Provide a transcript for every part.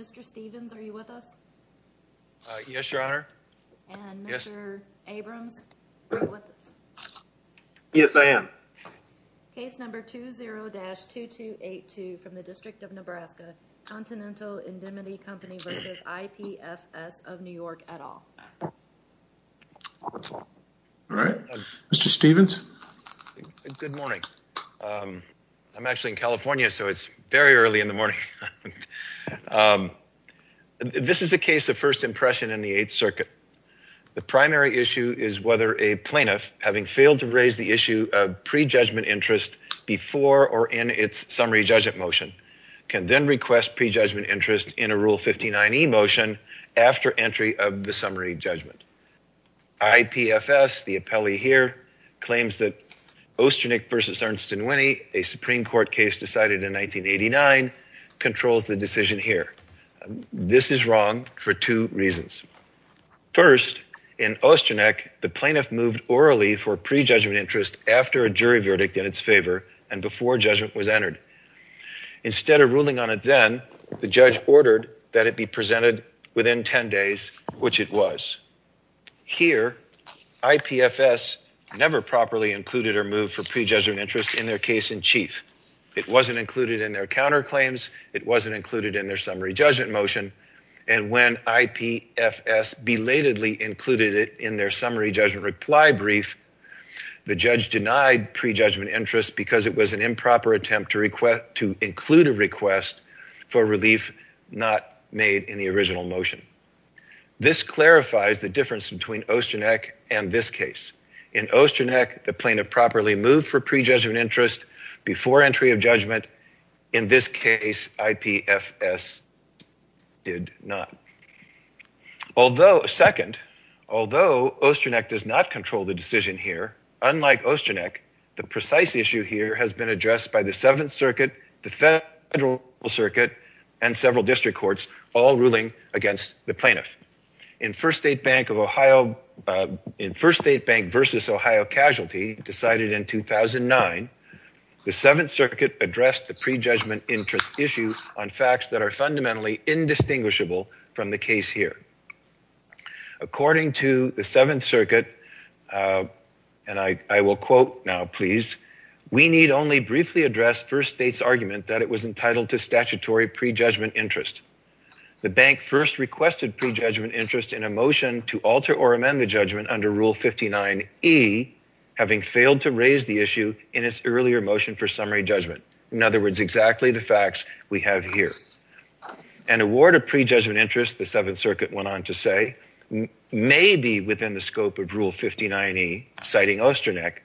Mr. Stevens, are you with us? Yes, your honor. And Mr. Abrams, are you with us? Yes, I am. Case number 20-2282 from the District of Nebraska, Continental Indemnity Company versus IPFS of New York et al. All right, Mr. Stevens. Good morning. I'm actually in California, so it's very early in the morning. This is a case of first impression in the Eighth Circuit. The primary issue is whether a plaintiff, having failed to raise the issue of pre-judgment interest before or in its summary judgment motion, can then request pre-judgment interest in a Rule 59e motion after entry of the summary judgment. IPFS, the appellee here, claims that Ostrinick v. Ernst & Winnie, a Supreme Court case decided in 1989, controls the decision here. This is wrong for two reasons. First, in Ostrinick, the plaintiff moved orally for pre-judgment interest after a jury verdict in its favor and before judgment was entered. Instead of ruling on it then, the judge ordered that it be presented within 10 days, which it was. Here, IPFS never properly included or moved for pre-judgment interest in their case in chief. It wasn't included in their counterclaims. It wasn't included in their summary judgment motion. And when IPFS belatedly included it in their summary judgment reply brief, the judge denied pre-judgment interest because it was an improper attempt to include a request for relief not made in the original motion. This clarifies the difference between Ostrinick and this case. In Ostrinick, the plaintiff properly moved for pre-judgment interest before entry of judgment. In this case, IPFS did not. Although, second, although Ostrinick does not control the decision here, unlike Ostrinick, the precise issue here has been addressed by the Seventh Circuit, the Federal Circuit, and several district courts, all ruling against the plaintiff. In First State Bank versus Ohio casualty decided in 2009, the Seventh Circuit addressed the pre-judgment interest issue on facts that are fundamentally indistinguishable from the case here. According to the Seventh Circuit, and I will quote now, please, we need only briefly address First State's argument that it was entitled to statutory pre-judgment interest. The bank first requested pre-judgment interest in a motion to alter or amend the judgment under Rule 59E, having failed to raise the issue in its earlier motion for summary judgment. In other words, exactly the facts we have here. An award of pre-judgment interest, the Seventh Circuit went on to say, may be within the scope of Rule 59E, citing Ostrinick,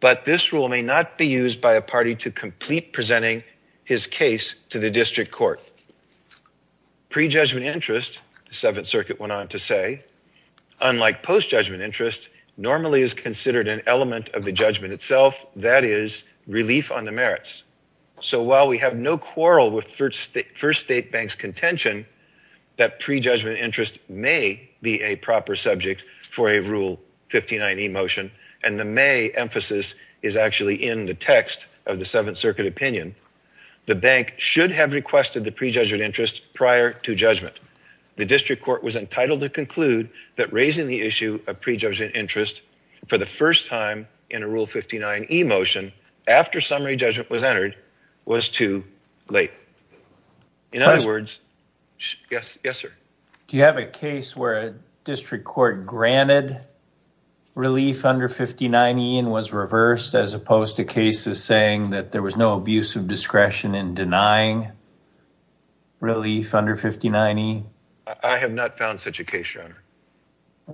but this rule may not be used by a party to complete presenting his case to the district court. Pre-judgment interest, the Seventh Circuit went on to say, unlike post-judgment interest, normally is considered an element of the judgment itself, that is, relief on the merits. So while we have no quarrel with First State Bank's contention that pre-judgment interest may be a emphasis, and the may emphasis is actually in the text of the Seventh Circuit opinion, the bank should have requested the pre-judgment interest prior to judgment. The district court was entitled to conclude that raising the issue of pre-judgment interest for the first time in a Rule 59E motion after summary judgment was entered was too late. In other words, yes, sir? Do you have a case where a district court granted relief under 59E and was reversed, as opposed to cases saying that there was no abuse of discretion in denying relief under 59E? I have not found such a case, your honor.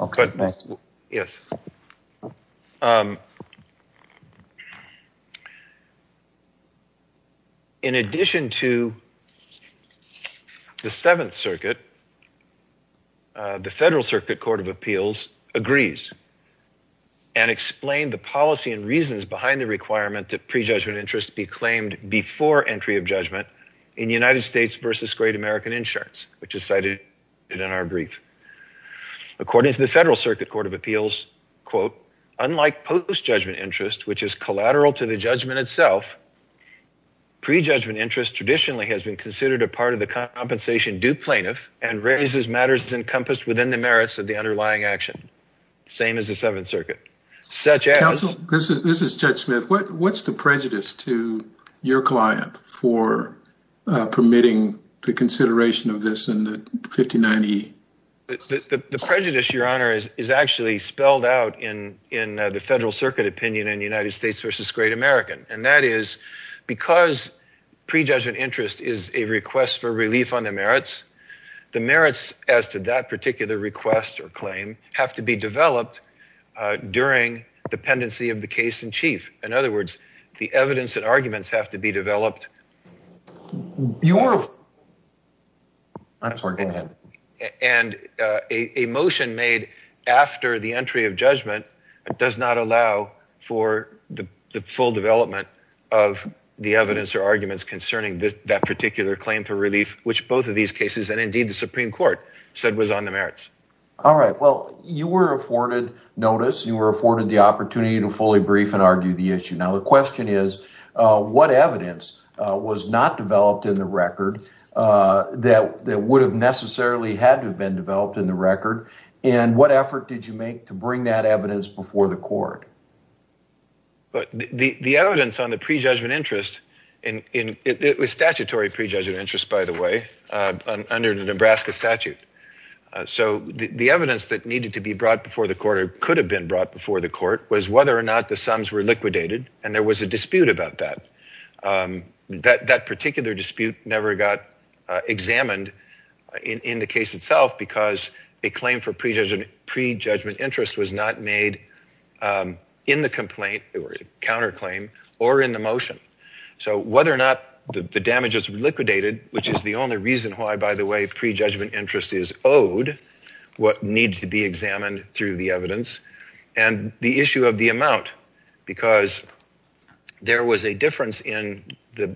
Okay. Yes. Okay. In addition to the Seventh Circuit, the Federal Circuit Court of Appeals agrees and explained the policy and reasons behind the requirement that pre-judgment interest be claimed before entry of judgment in United States v. Great American Insurance, which is cited in our brief. According to the Federal Circuit Court of Appeals, unlike post-judgment interest, which is collateral to the judgment itself, pre-judgment interest traditionally has been considered a part of the compensation due plaintiff and raises matters encompassed within the merits of the underlying action, same as the Seventh Circuit. Counsel, this is Judge Smith. What's the prejudice to your client for permitting the consideration of this in 59E? The prejudice, your honor, is actually spelled out in the Federal Circuit opinion in United States v. Great American, and that is because pre-judgment interest is a request for relief on the merits, the merits as to that particular request or claim have to be developed during dependency of the case in chief. In other words, the evidence and arguments have to be developed. And a motion made after the entry of judgment does not allow for the full development of the evidence or arguments concerning that particular claim for relief, which both of these cases and indeed the Supreme Court said was on the merits. All right. Well, you were afforded notice. You were afforded the notice. My question is, what evidence was not developed in the record that would have necessarily had to have been developed in the record? And what effort did you make to bring that evidence before the court? The evidence on the pre-judgment interest, it was statutory pre-judgment interest, by the way, under the Nebraska statute. So the evidence that needed to be brought before the court or could have been brought before the court was whether or not the sums were liquidated and there was a dispute about that. That particular dispute never got examined in the case itself because a claim for pre-judgment interest was not made in the complaint or counterclaim or in the motion. So whether or not the damage is liquidated, which is the only reason why, by the way, pre-judgment interest is owed, what needs to be examined through the evidence and the issue of amount because there was a difference in the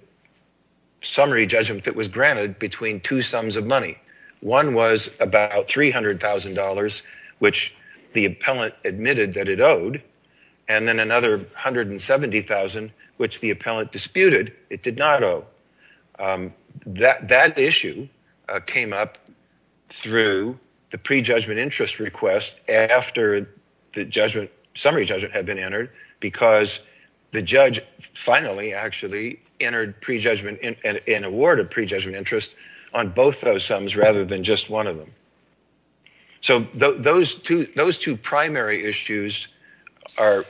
summary judgment that was granted between two sums of money. One was about $300,000, which the appellant admitted that it owed, and then another $170,000, which the appellant disputed it did not owe. That issue came up through the pre-judgment interest request after the summary judgment had been entered because the judge finally actually entered an award of pre-judgment interest on both those sums rather than just one of them. So those two primary issues are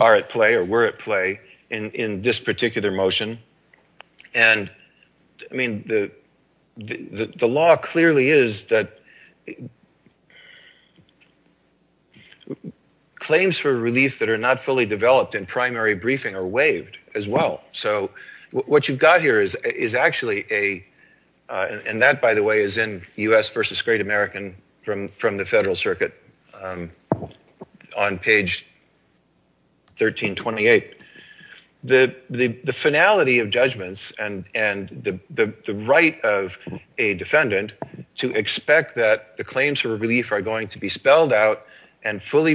at play or were at play in this particular motion. And, I mean, the law clearly is that claims for relief that are not fully developed in primary briefing are waived as well. So what you've got here is actually a, and that, by the way, is in U.S. versus Great American from the and the right of a defendant to expect that the claims for relief are going to be spelled out and fully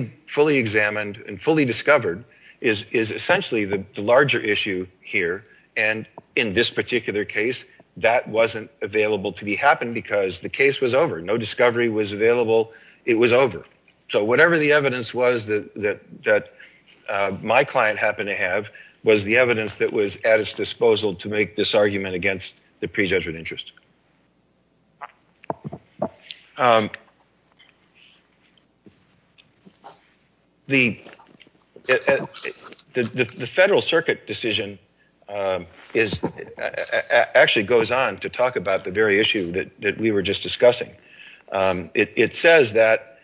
examined and fully discovered is essentially the larger issue here. And in this particular case, that wasn't available to be happened because the case was over. No discovery was available. It was over. So whatever the evidence was that my client happened to have was the evidence that was at its disposal to make this argument against the pre-judgment interest. The Federal Circuit decision is, actually goes on to talk about the very issue that we were just discussing. It says that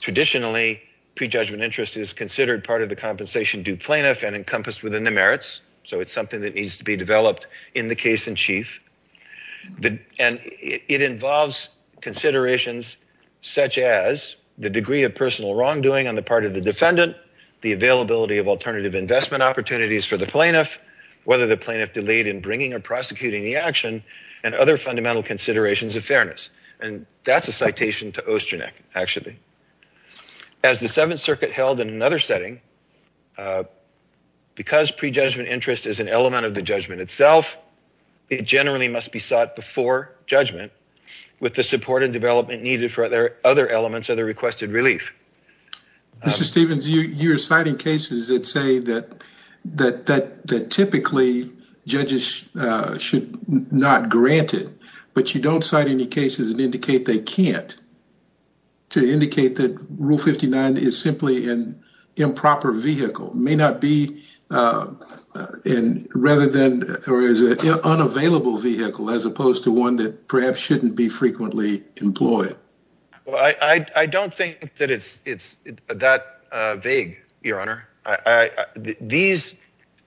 traditionally pre-judgment interest is considered part of the compensation plaintiff and encompassed within the merits. So it's something that needs to be developed in the case in chief. And it involves considerations such as the degree of personal wrongdoing on the part of the defendant, the availability of alternative investment opportunities for the plaintiff, whether the plaintiff delayed in bringing or prosecuting the action, and other fundamental considerations of fairness. And that's a citation to Ostrinek, actually. As the Seventh Circuit held in another setting, because pre-judgment interest is an element of the judgment itself, it generally must be sought before judgment with the support and development needed for other elements of the requested relief. Mr. Stephens, you're citing cases that say that typically judges should not grant it, but you don't cite any cases that indicate they can't, to indicate that Rule 59 is simply an improper vehicle, may not be, rather than, or is an unavailable vehicle as opposed to one that perhaps shouldn't be frequently employed. Well, I don't think that it's that vague, Your Honor.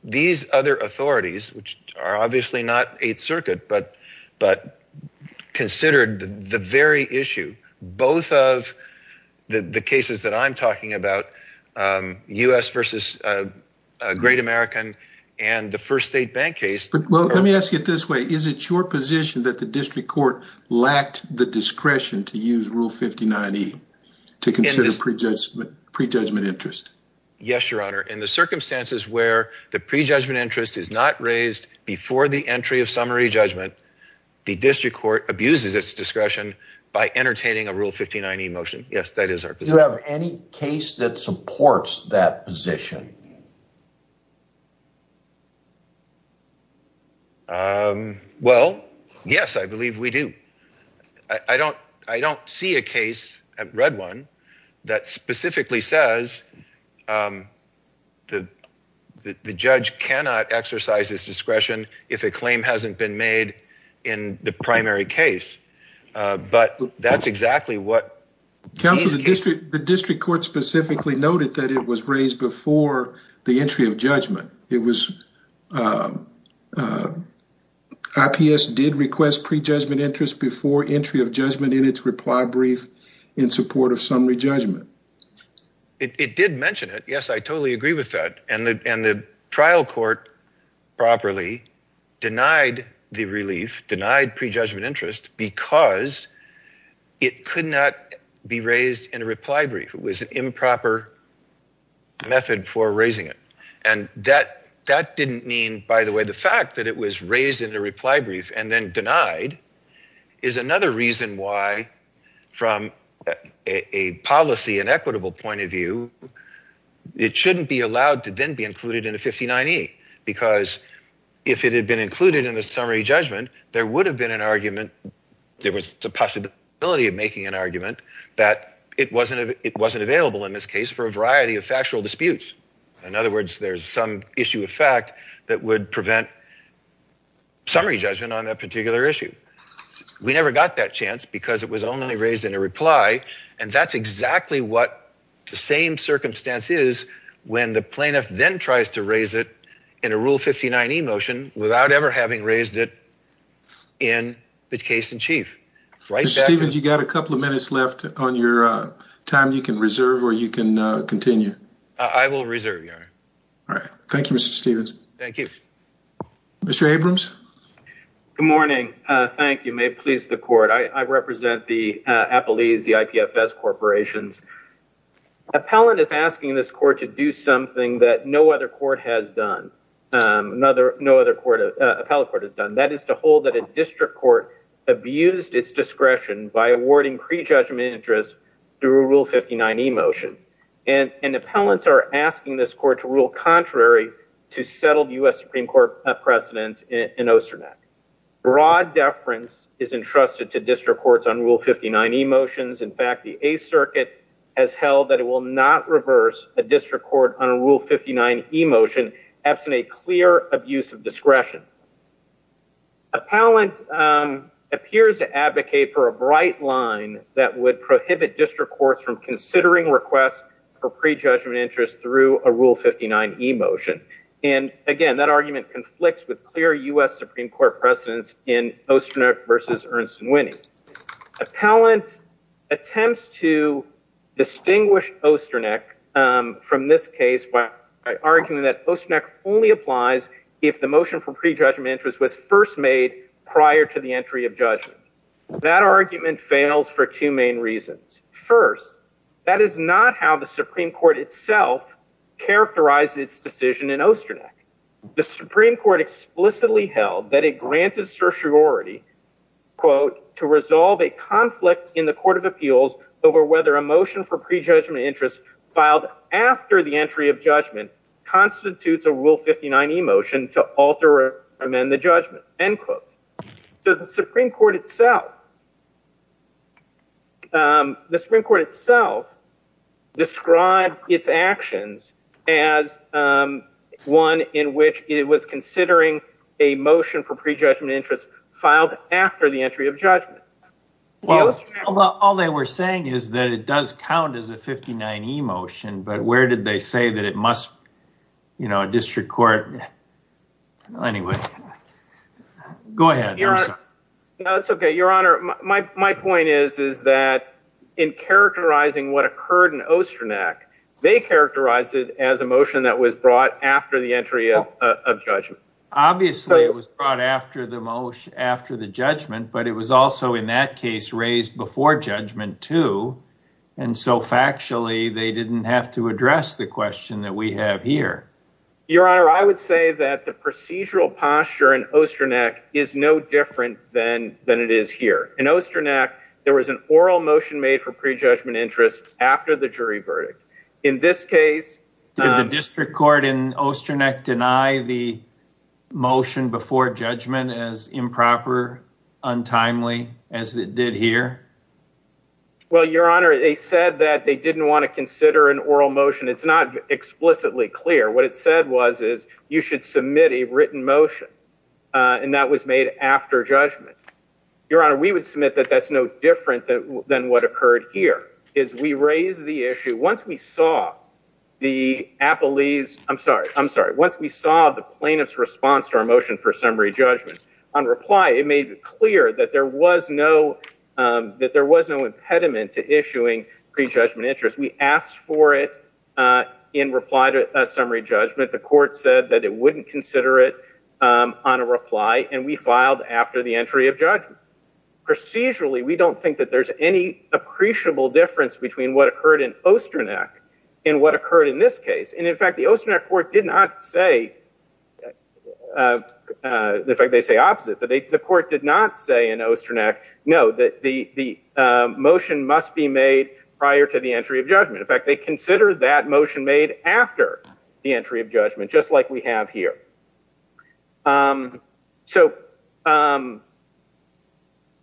These other authorities, which are obviously not Eighth Circuit, but considered the very issue, both of the cases that I'm talking about, U.S. versus Great American, and the first state bank case. But let me ask it this way. Is it your position that the district court lacked the discretion to use Rule 59e to consider pre-judgment interest? Yes, Your Honor. In the circumstances where the pre-judgment interest is not raised before the entry of summary judgment, the district court abuses its discretion by entertaining a Rule 59e motion. Yes, that is our position. Do you have any case that supports that position? Well, yes, I believe we do. I don't see a case, I haven't read one, that specifically says, that the judge cannot exercise his discretion if a claim hasn't been made in the primary case. But that's exactly what... Counsel, the district court specifically noted that it was raised before the entry of judgment. It was... IPS did request pre-judgment interest before entry of judgment in its reply brief in support of summary judgment. It did mention it. Yes, I totally agree with that. And the trial court properly denied the relief, denied pre-judgment interest, because it could not be raised in a reply brief. It was an improper method for raising it. And that didn't mean, by the way, the fact that it was raised in a reply brief and then denied is another reason why, from a policy and equitable point of view, it shouldn't be allowed to then be included in a 59e. Because if it had been included in the summary judgment, there would have been an argument, there was a possibility of making an argument that it wasn't available in this case for a variety of factual disputes. In other words, there's some issue of fact that would prevent summary judgment on that particular issue. We never got that chance because it was only raised in a reply. And that's exactly what the same circumstance is when the plaintiff then tries to raise it in a Rule 59e motion without ever having raised it in the case in chief. Mr. Stevens, you got a couple of minutes left on your time you can reserve or you can continue. I will reserve, Your Honor. All right. Thank you, Mr. Stevens. Thank you. Mr. Abrams. Good morning. Thank you. May it please the Court. I represent the APLEs, the IPFS corporations. Appellant is asking this Court to do something that no other Court has done, no other Appellate Court has done. That is to hold that a district court abused its discretion by awarding pre-judgment interest through a Rule 59e motion. And appellants are asking this Court to rule contrary to settled U.S. Supreme Court precedents in Ocernet. Broad deference is entrusted to district courts on Rule 59e motions. In fact, the Eighth Circuit has held that it will not reverse a district court on a Rule 59e motion absent a clear abuse of discretion. Appellant appears to advocate for a bright line that would prohibit district courts from considering requests for pre-judgment interest through a Rule 59e motion. And again, that argument conflicts with clear U.S. Supreme Court precedents in Ocernet versus Ernst & Winnie. Appellant attempts to distinguish Ocernet from this case by arguing that Ocernet only applies if the motion for pre-judgment interest was first made prior to the entry of judgment. That argument fails for two main reasons. First, that is not how the Supreme Court itself characterized its decision in Ocernet. The Supreme Court explicitly held that it granted certiorari, quote, to resolve a conflict in the Court of Appeals over whether a motion for pre-judgment interest filed after the entry of judgment constitutes a Rule 59e motion to alter or amend the judgment, end quote. So the Supreme Court itself, the Supreme Court itself described its actions as one in which it was considering a motion for pre-judgment interest filed after the entry of judgment. Well, all they were saying is that it does count as a 59e motion, but where did they say that it must, you know, a district court, well, anyway, go ahead. No, that's okay. Your Honor, my point is, is that in characterizing what occurred in Ocernet, they characterized it as a motion that was brought after the entry of judgment. Obviously, it was brought after the motion, after the judgment, but it was also in that case raised before judgment too. And so factually, they didn't have to address the that the procedural posture in Ocernet is no different than it is here. In Ocernet, there was an oral motion made for pre-judgment interest after the jury verdict. In this case, did the district court in Ocernet deny the motion before judgment as improper, untimely as it did here? Well, Your Honor, they said that they didn't want to consider an oral motion. It's not explicitly clear. What it said was is you should submit a written motion, and that was made after judgment. Your Honor, we would submit that that's no different than what occurred here, is we raised the issue. Once we saw the appellees, I'm sorry, I'm sorry. Once we saw the plaintiff's response to our motion for summary judgment, on reply, it made it clear that there was no, that there was no impediment to issuing pre-judgment interest. We asked for it in reply to a summary judgment. The court said that it wouldn't consider it on a reply, and we filed after the entry of judgment. Procedurally, we don't think that there's any appreciable difference between what occurred in Ocernet and what occurred in this case. And in fact, the Ocernet court did not say, in fact, they say opposite, but the court did not say in Ocernet, no, that the motion must be made prior to the entry of judgment. In fact, they consider that motion made after the entry of judgment, just like we have here. So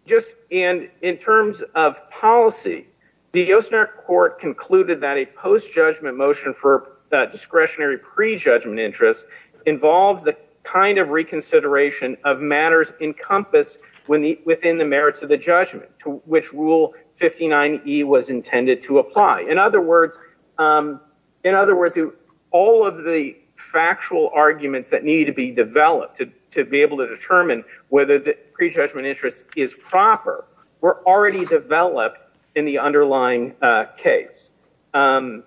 just in terms of policy, the Ocernet court concluded that a post-judgment motion for discretionary pre-judgment interest involves the kind of reconsideration of matters encompassed within the merits of the judgment to which rule 59E was intended to apply. In other words, all of the factual arguments that need to be developed to be able to determine whether the pre-judgment interest is proper were already developed in the underlying case. The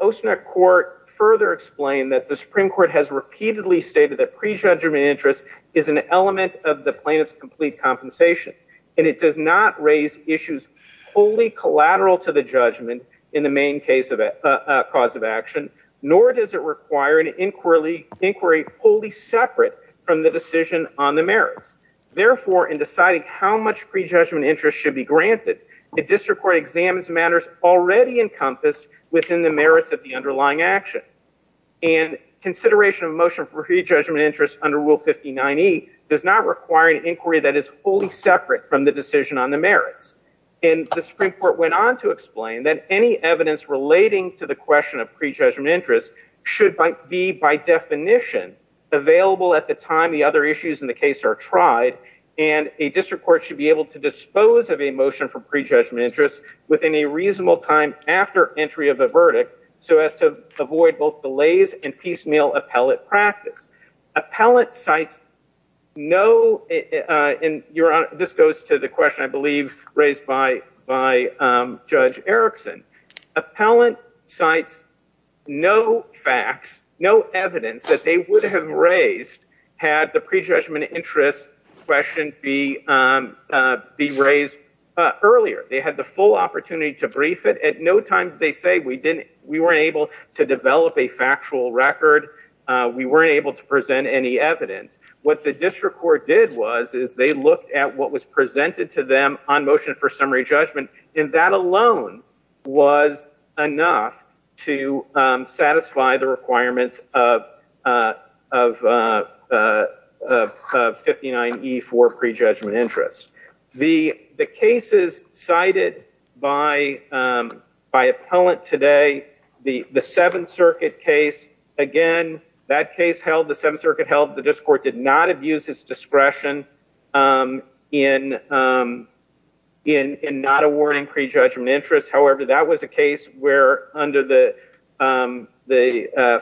Ocernet court further explained that the Supreme Court has repeatedly stated that pre-judgment interest is an element of the plaintiff's complete compensation, and it does not raise issues wholly collateral to the judgment in the main cause of action, nor does it require an on the merits. Therefore, in deciding how much pre-judgment interest should be granted, the district court examines matters already encompassed within the merits of the underlying action. And consideration of motion for pre-judgment interest under rule 59E does not require an inquiry that is wholly separate from the decision on the merits. And the Supreme Court went on to explain that any evidence relating to the question of pre-judgment interest should be by definition available at the time the other issues in the case are tried, and a district court should be able to dispose of a motion for pre-judgment interest within a reasonable time after entry of a verdict, so as to avoid both delays and piecemeal appellate practice. Appellate sites know, and this goes to the question I believe raised by Judge Erickson, appellate sites know facts, know evidence that they would have raised had the pre-judgment interest question be raised earlier. They had the full opportunity to brief it. At no time did they say we weren't able to develop a factual record, we weren't able to present any evidence. What the district court did was they looked at what was presented to them on motion for summary judgment, and that alone was enough to satisfy the requirements of 59E for pre-judgment interest. The cases cited by appellant today, the Seventh Circuit case, again, that case held, the district court did not abuse its discretion in not awarding pre-judgment interest, however, that was a case where under the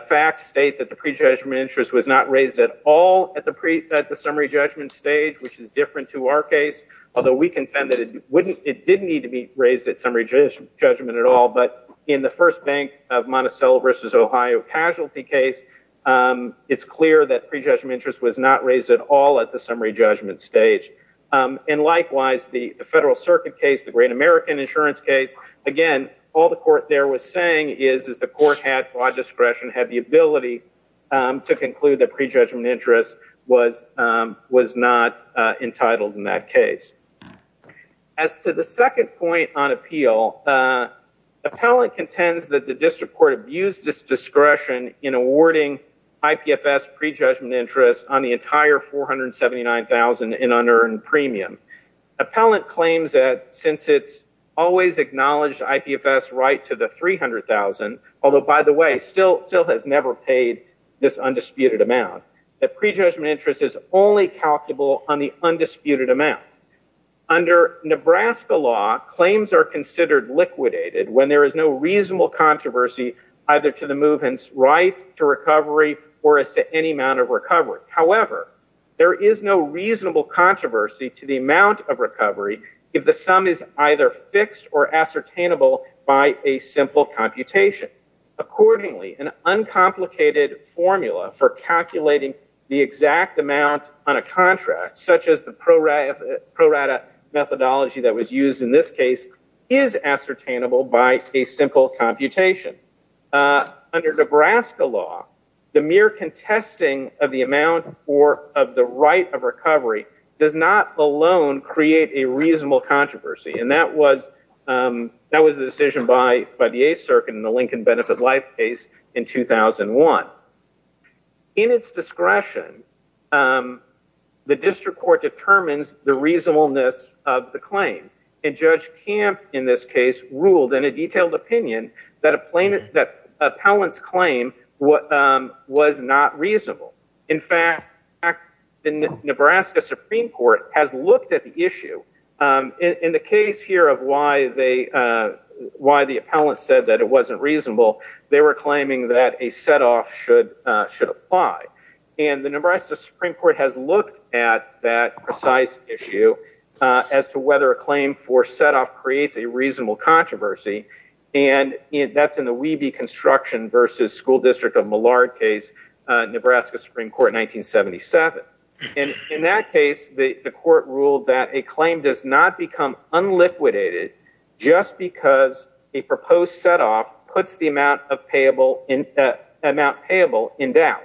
facts state that the pre-judgment interest was not raised at all at the summary judgment stage, which is different to our case, although we contend that it didn't need to be raised at summary judgment at all, but in the first bank of Monticello versus Ohio casualty case, it's clear that pre-judgment interest was not raised at all at the summary judgment stage. And likewise, the Federal Circuit case, the Great American Insurance case, again, all the court there was saying is the court had broad discretion, had the ability to conclude that pre-judgment interest was not entitled in that case. As to the second point on appeal, appellant contends that the district court abused its discretion in awarding IPFS pre-judgment interest on the entire $479,000 in unearned premium. Appellant claims that since it's always acknowledged IPFS right to the $300,000, although by the way, still has never paid this undisputed amount, that pre-judgment interest is only calculable on the undisputed amount. Under Nebraska law, claims are considered liquidated when there is no reasonable controversy either to the movement's right to recovery or as to any amount of recovery. However, there is no reasonable controversy to the amount of recovery if the sum is either fixed or ascertainable by a simple computation. Accordingly, an uncomplicated formula for calculating the exact amount on a contract, such as the pro-rata methodology that was used in this case, is ascertainable by a simple computation. Under Nebraska law, the mere contesting of the amount or of the right of recovery does not alone create a reasonable controversy, and that was the decision by the 8th Circuit in the Lincoln Benefit Life case in 2001. In its discretion, the District Court determines the reasonableness of the claim, and Judge Camp in this case ruled in a detailed opinion that Appellant's claim was not reasonable. In fact, the Nebraska Supreme Court has looked at the issue. In the case here of why the Appellant said that it wasn't reasonable, they were claiming that a setoff should apply, and the Nebraska Supreme Court has looked at that precise issue as to whether a claim for setoff creates a reasonable controversy, and that's in the Weeby Construction v. School District of Millard case, Nebraska Supreme Court 1977. In that case, the court ruled that a claim does not become unliquidated just because a payable amount is in doubt.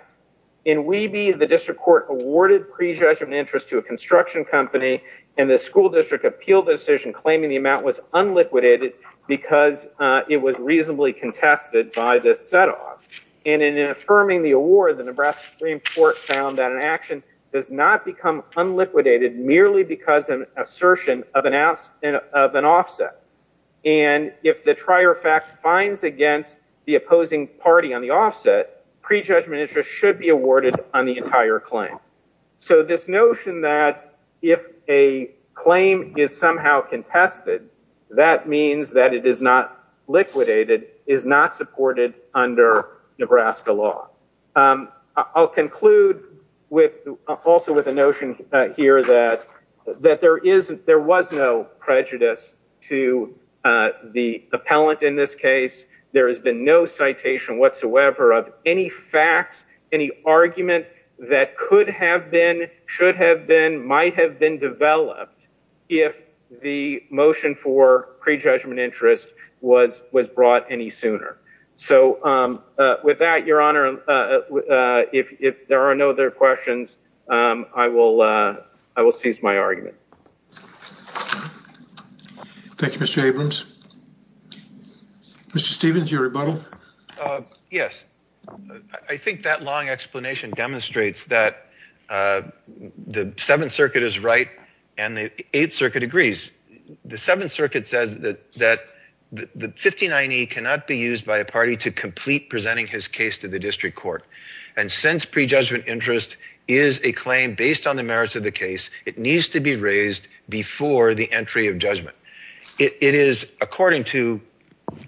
In Weeby, the District Court awarded pre-judgment interest to a construction company, and the School District appealed the decision claiming the amount was unliquidated because it was reasonably contested by the setoff, and in affirming the award, the Nebraska Supreme Court found that an action does not become unliquidated merely because an assertion of an offset, and if the trier fact finds against the opposing party on the offset, pre-judgment interest should be awarded on the entire claim. So this notion that if a claim is somehow contested, that means that it is not liquidated, is not supported under Nebraska law. I'll conclude also with a notion here that there was no prejudice to the appellant in this case. There has been no citation whatsoever of any facts, any argument that could have been, should have been, might have been developed if the motion for pre-judgment interest was brought any sooner. So with that, Your Honor, if there are no other questions, I will cease my argument. Thank you, Mr. Abrams. Mr. Stevens, your rebuttal? Yes. I think that long explanation demonstrates that the Seventh Circuit is right and the Eighth Circuit says that the 59E cannot be used by a party to complete presenting his case to the district court. And since pre-judgment interest is a claim based on the merits of the case, it needs to be raised before the entry of judgment. It is according to,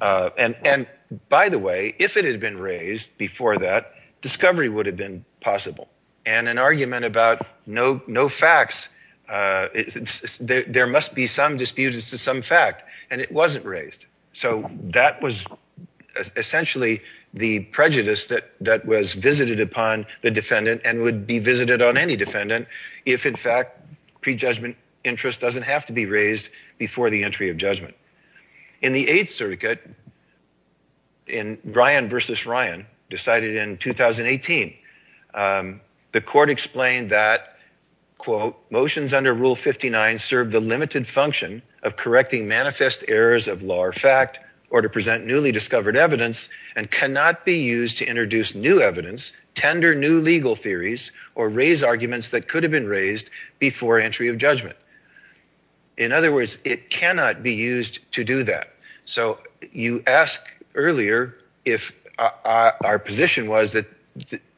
and by the way, if it had been raised before that, discovery would have been possible. And an argument about no facts, there must be some dispute as to some fact, and it wasn't raised. So that was essentially the prejudice that was visited upon the defendant and would be visited on any defendant if in fact pre-judgment interest doesn't have to be raised before the entry of judgment. In the Eighth Circuit, in Ryan versus Ryan, decided in 2018, the court explained that motions under Rule 59 serve the limited function of correcting manifest errors of law or fact, or to present newly discovered evidence, and cannot be used to introduce new evidence, tender new legal theories, or raise arguments that could have been raised before entry of judgment. In other words, it cannot be used to do that. So you asked earlier if our position was that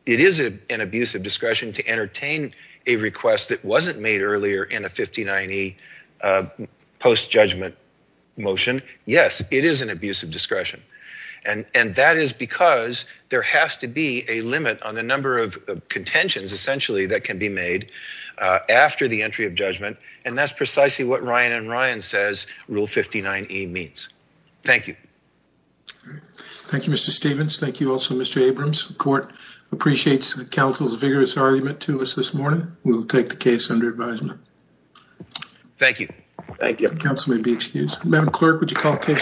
it is an abuse of discretion to entertain a request that wasn't made earlier in a 50-90 post-judgment motion. Yes, it is an abuse of discretion. And that is because there has to be a limit on the number of contentions essentially that can be made after the entry of judgment, precisely what Ryan and Ryan says Rule 59E means. Thank you. Thank you, Mr. Stephens. Thank you also, Mr. Abrams. The court appreciates the counsel's vigorous argument to us this morning. We will take the case under advisement. Thank you. Thank you. The counsel may be excused. Madam Clerk, would you call case?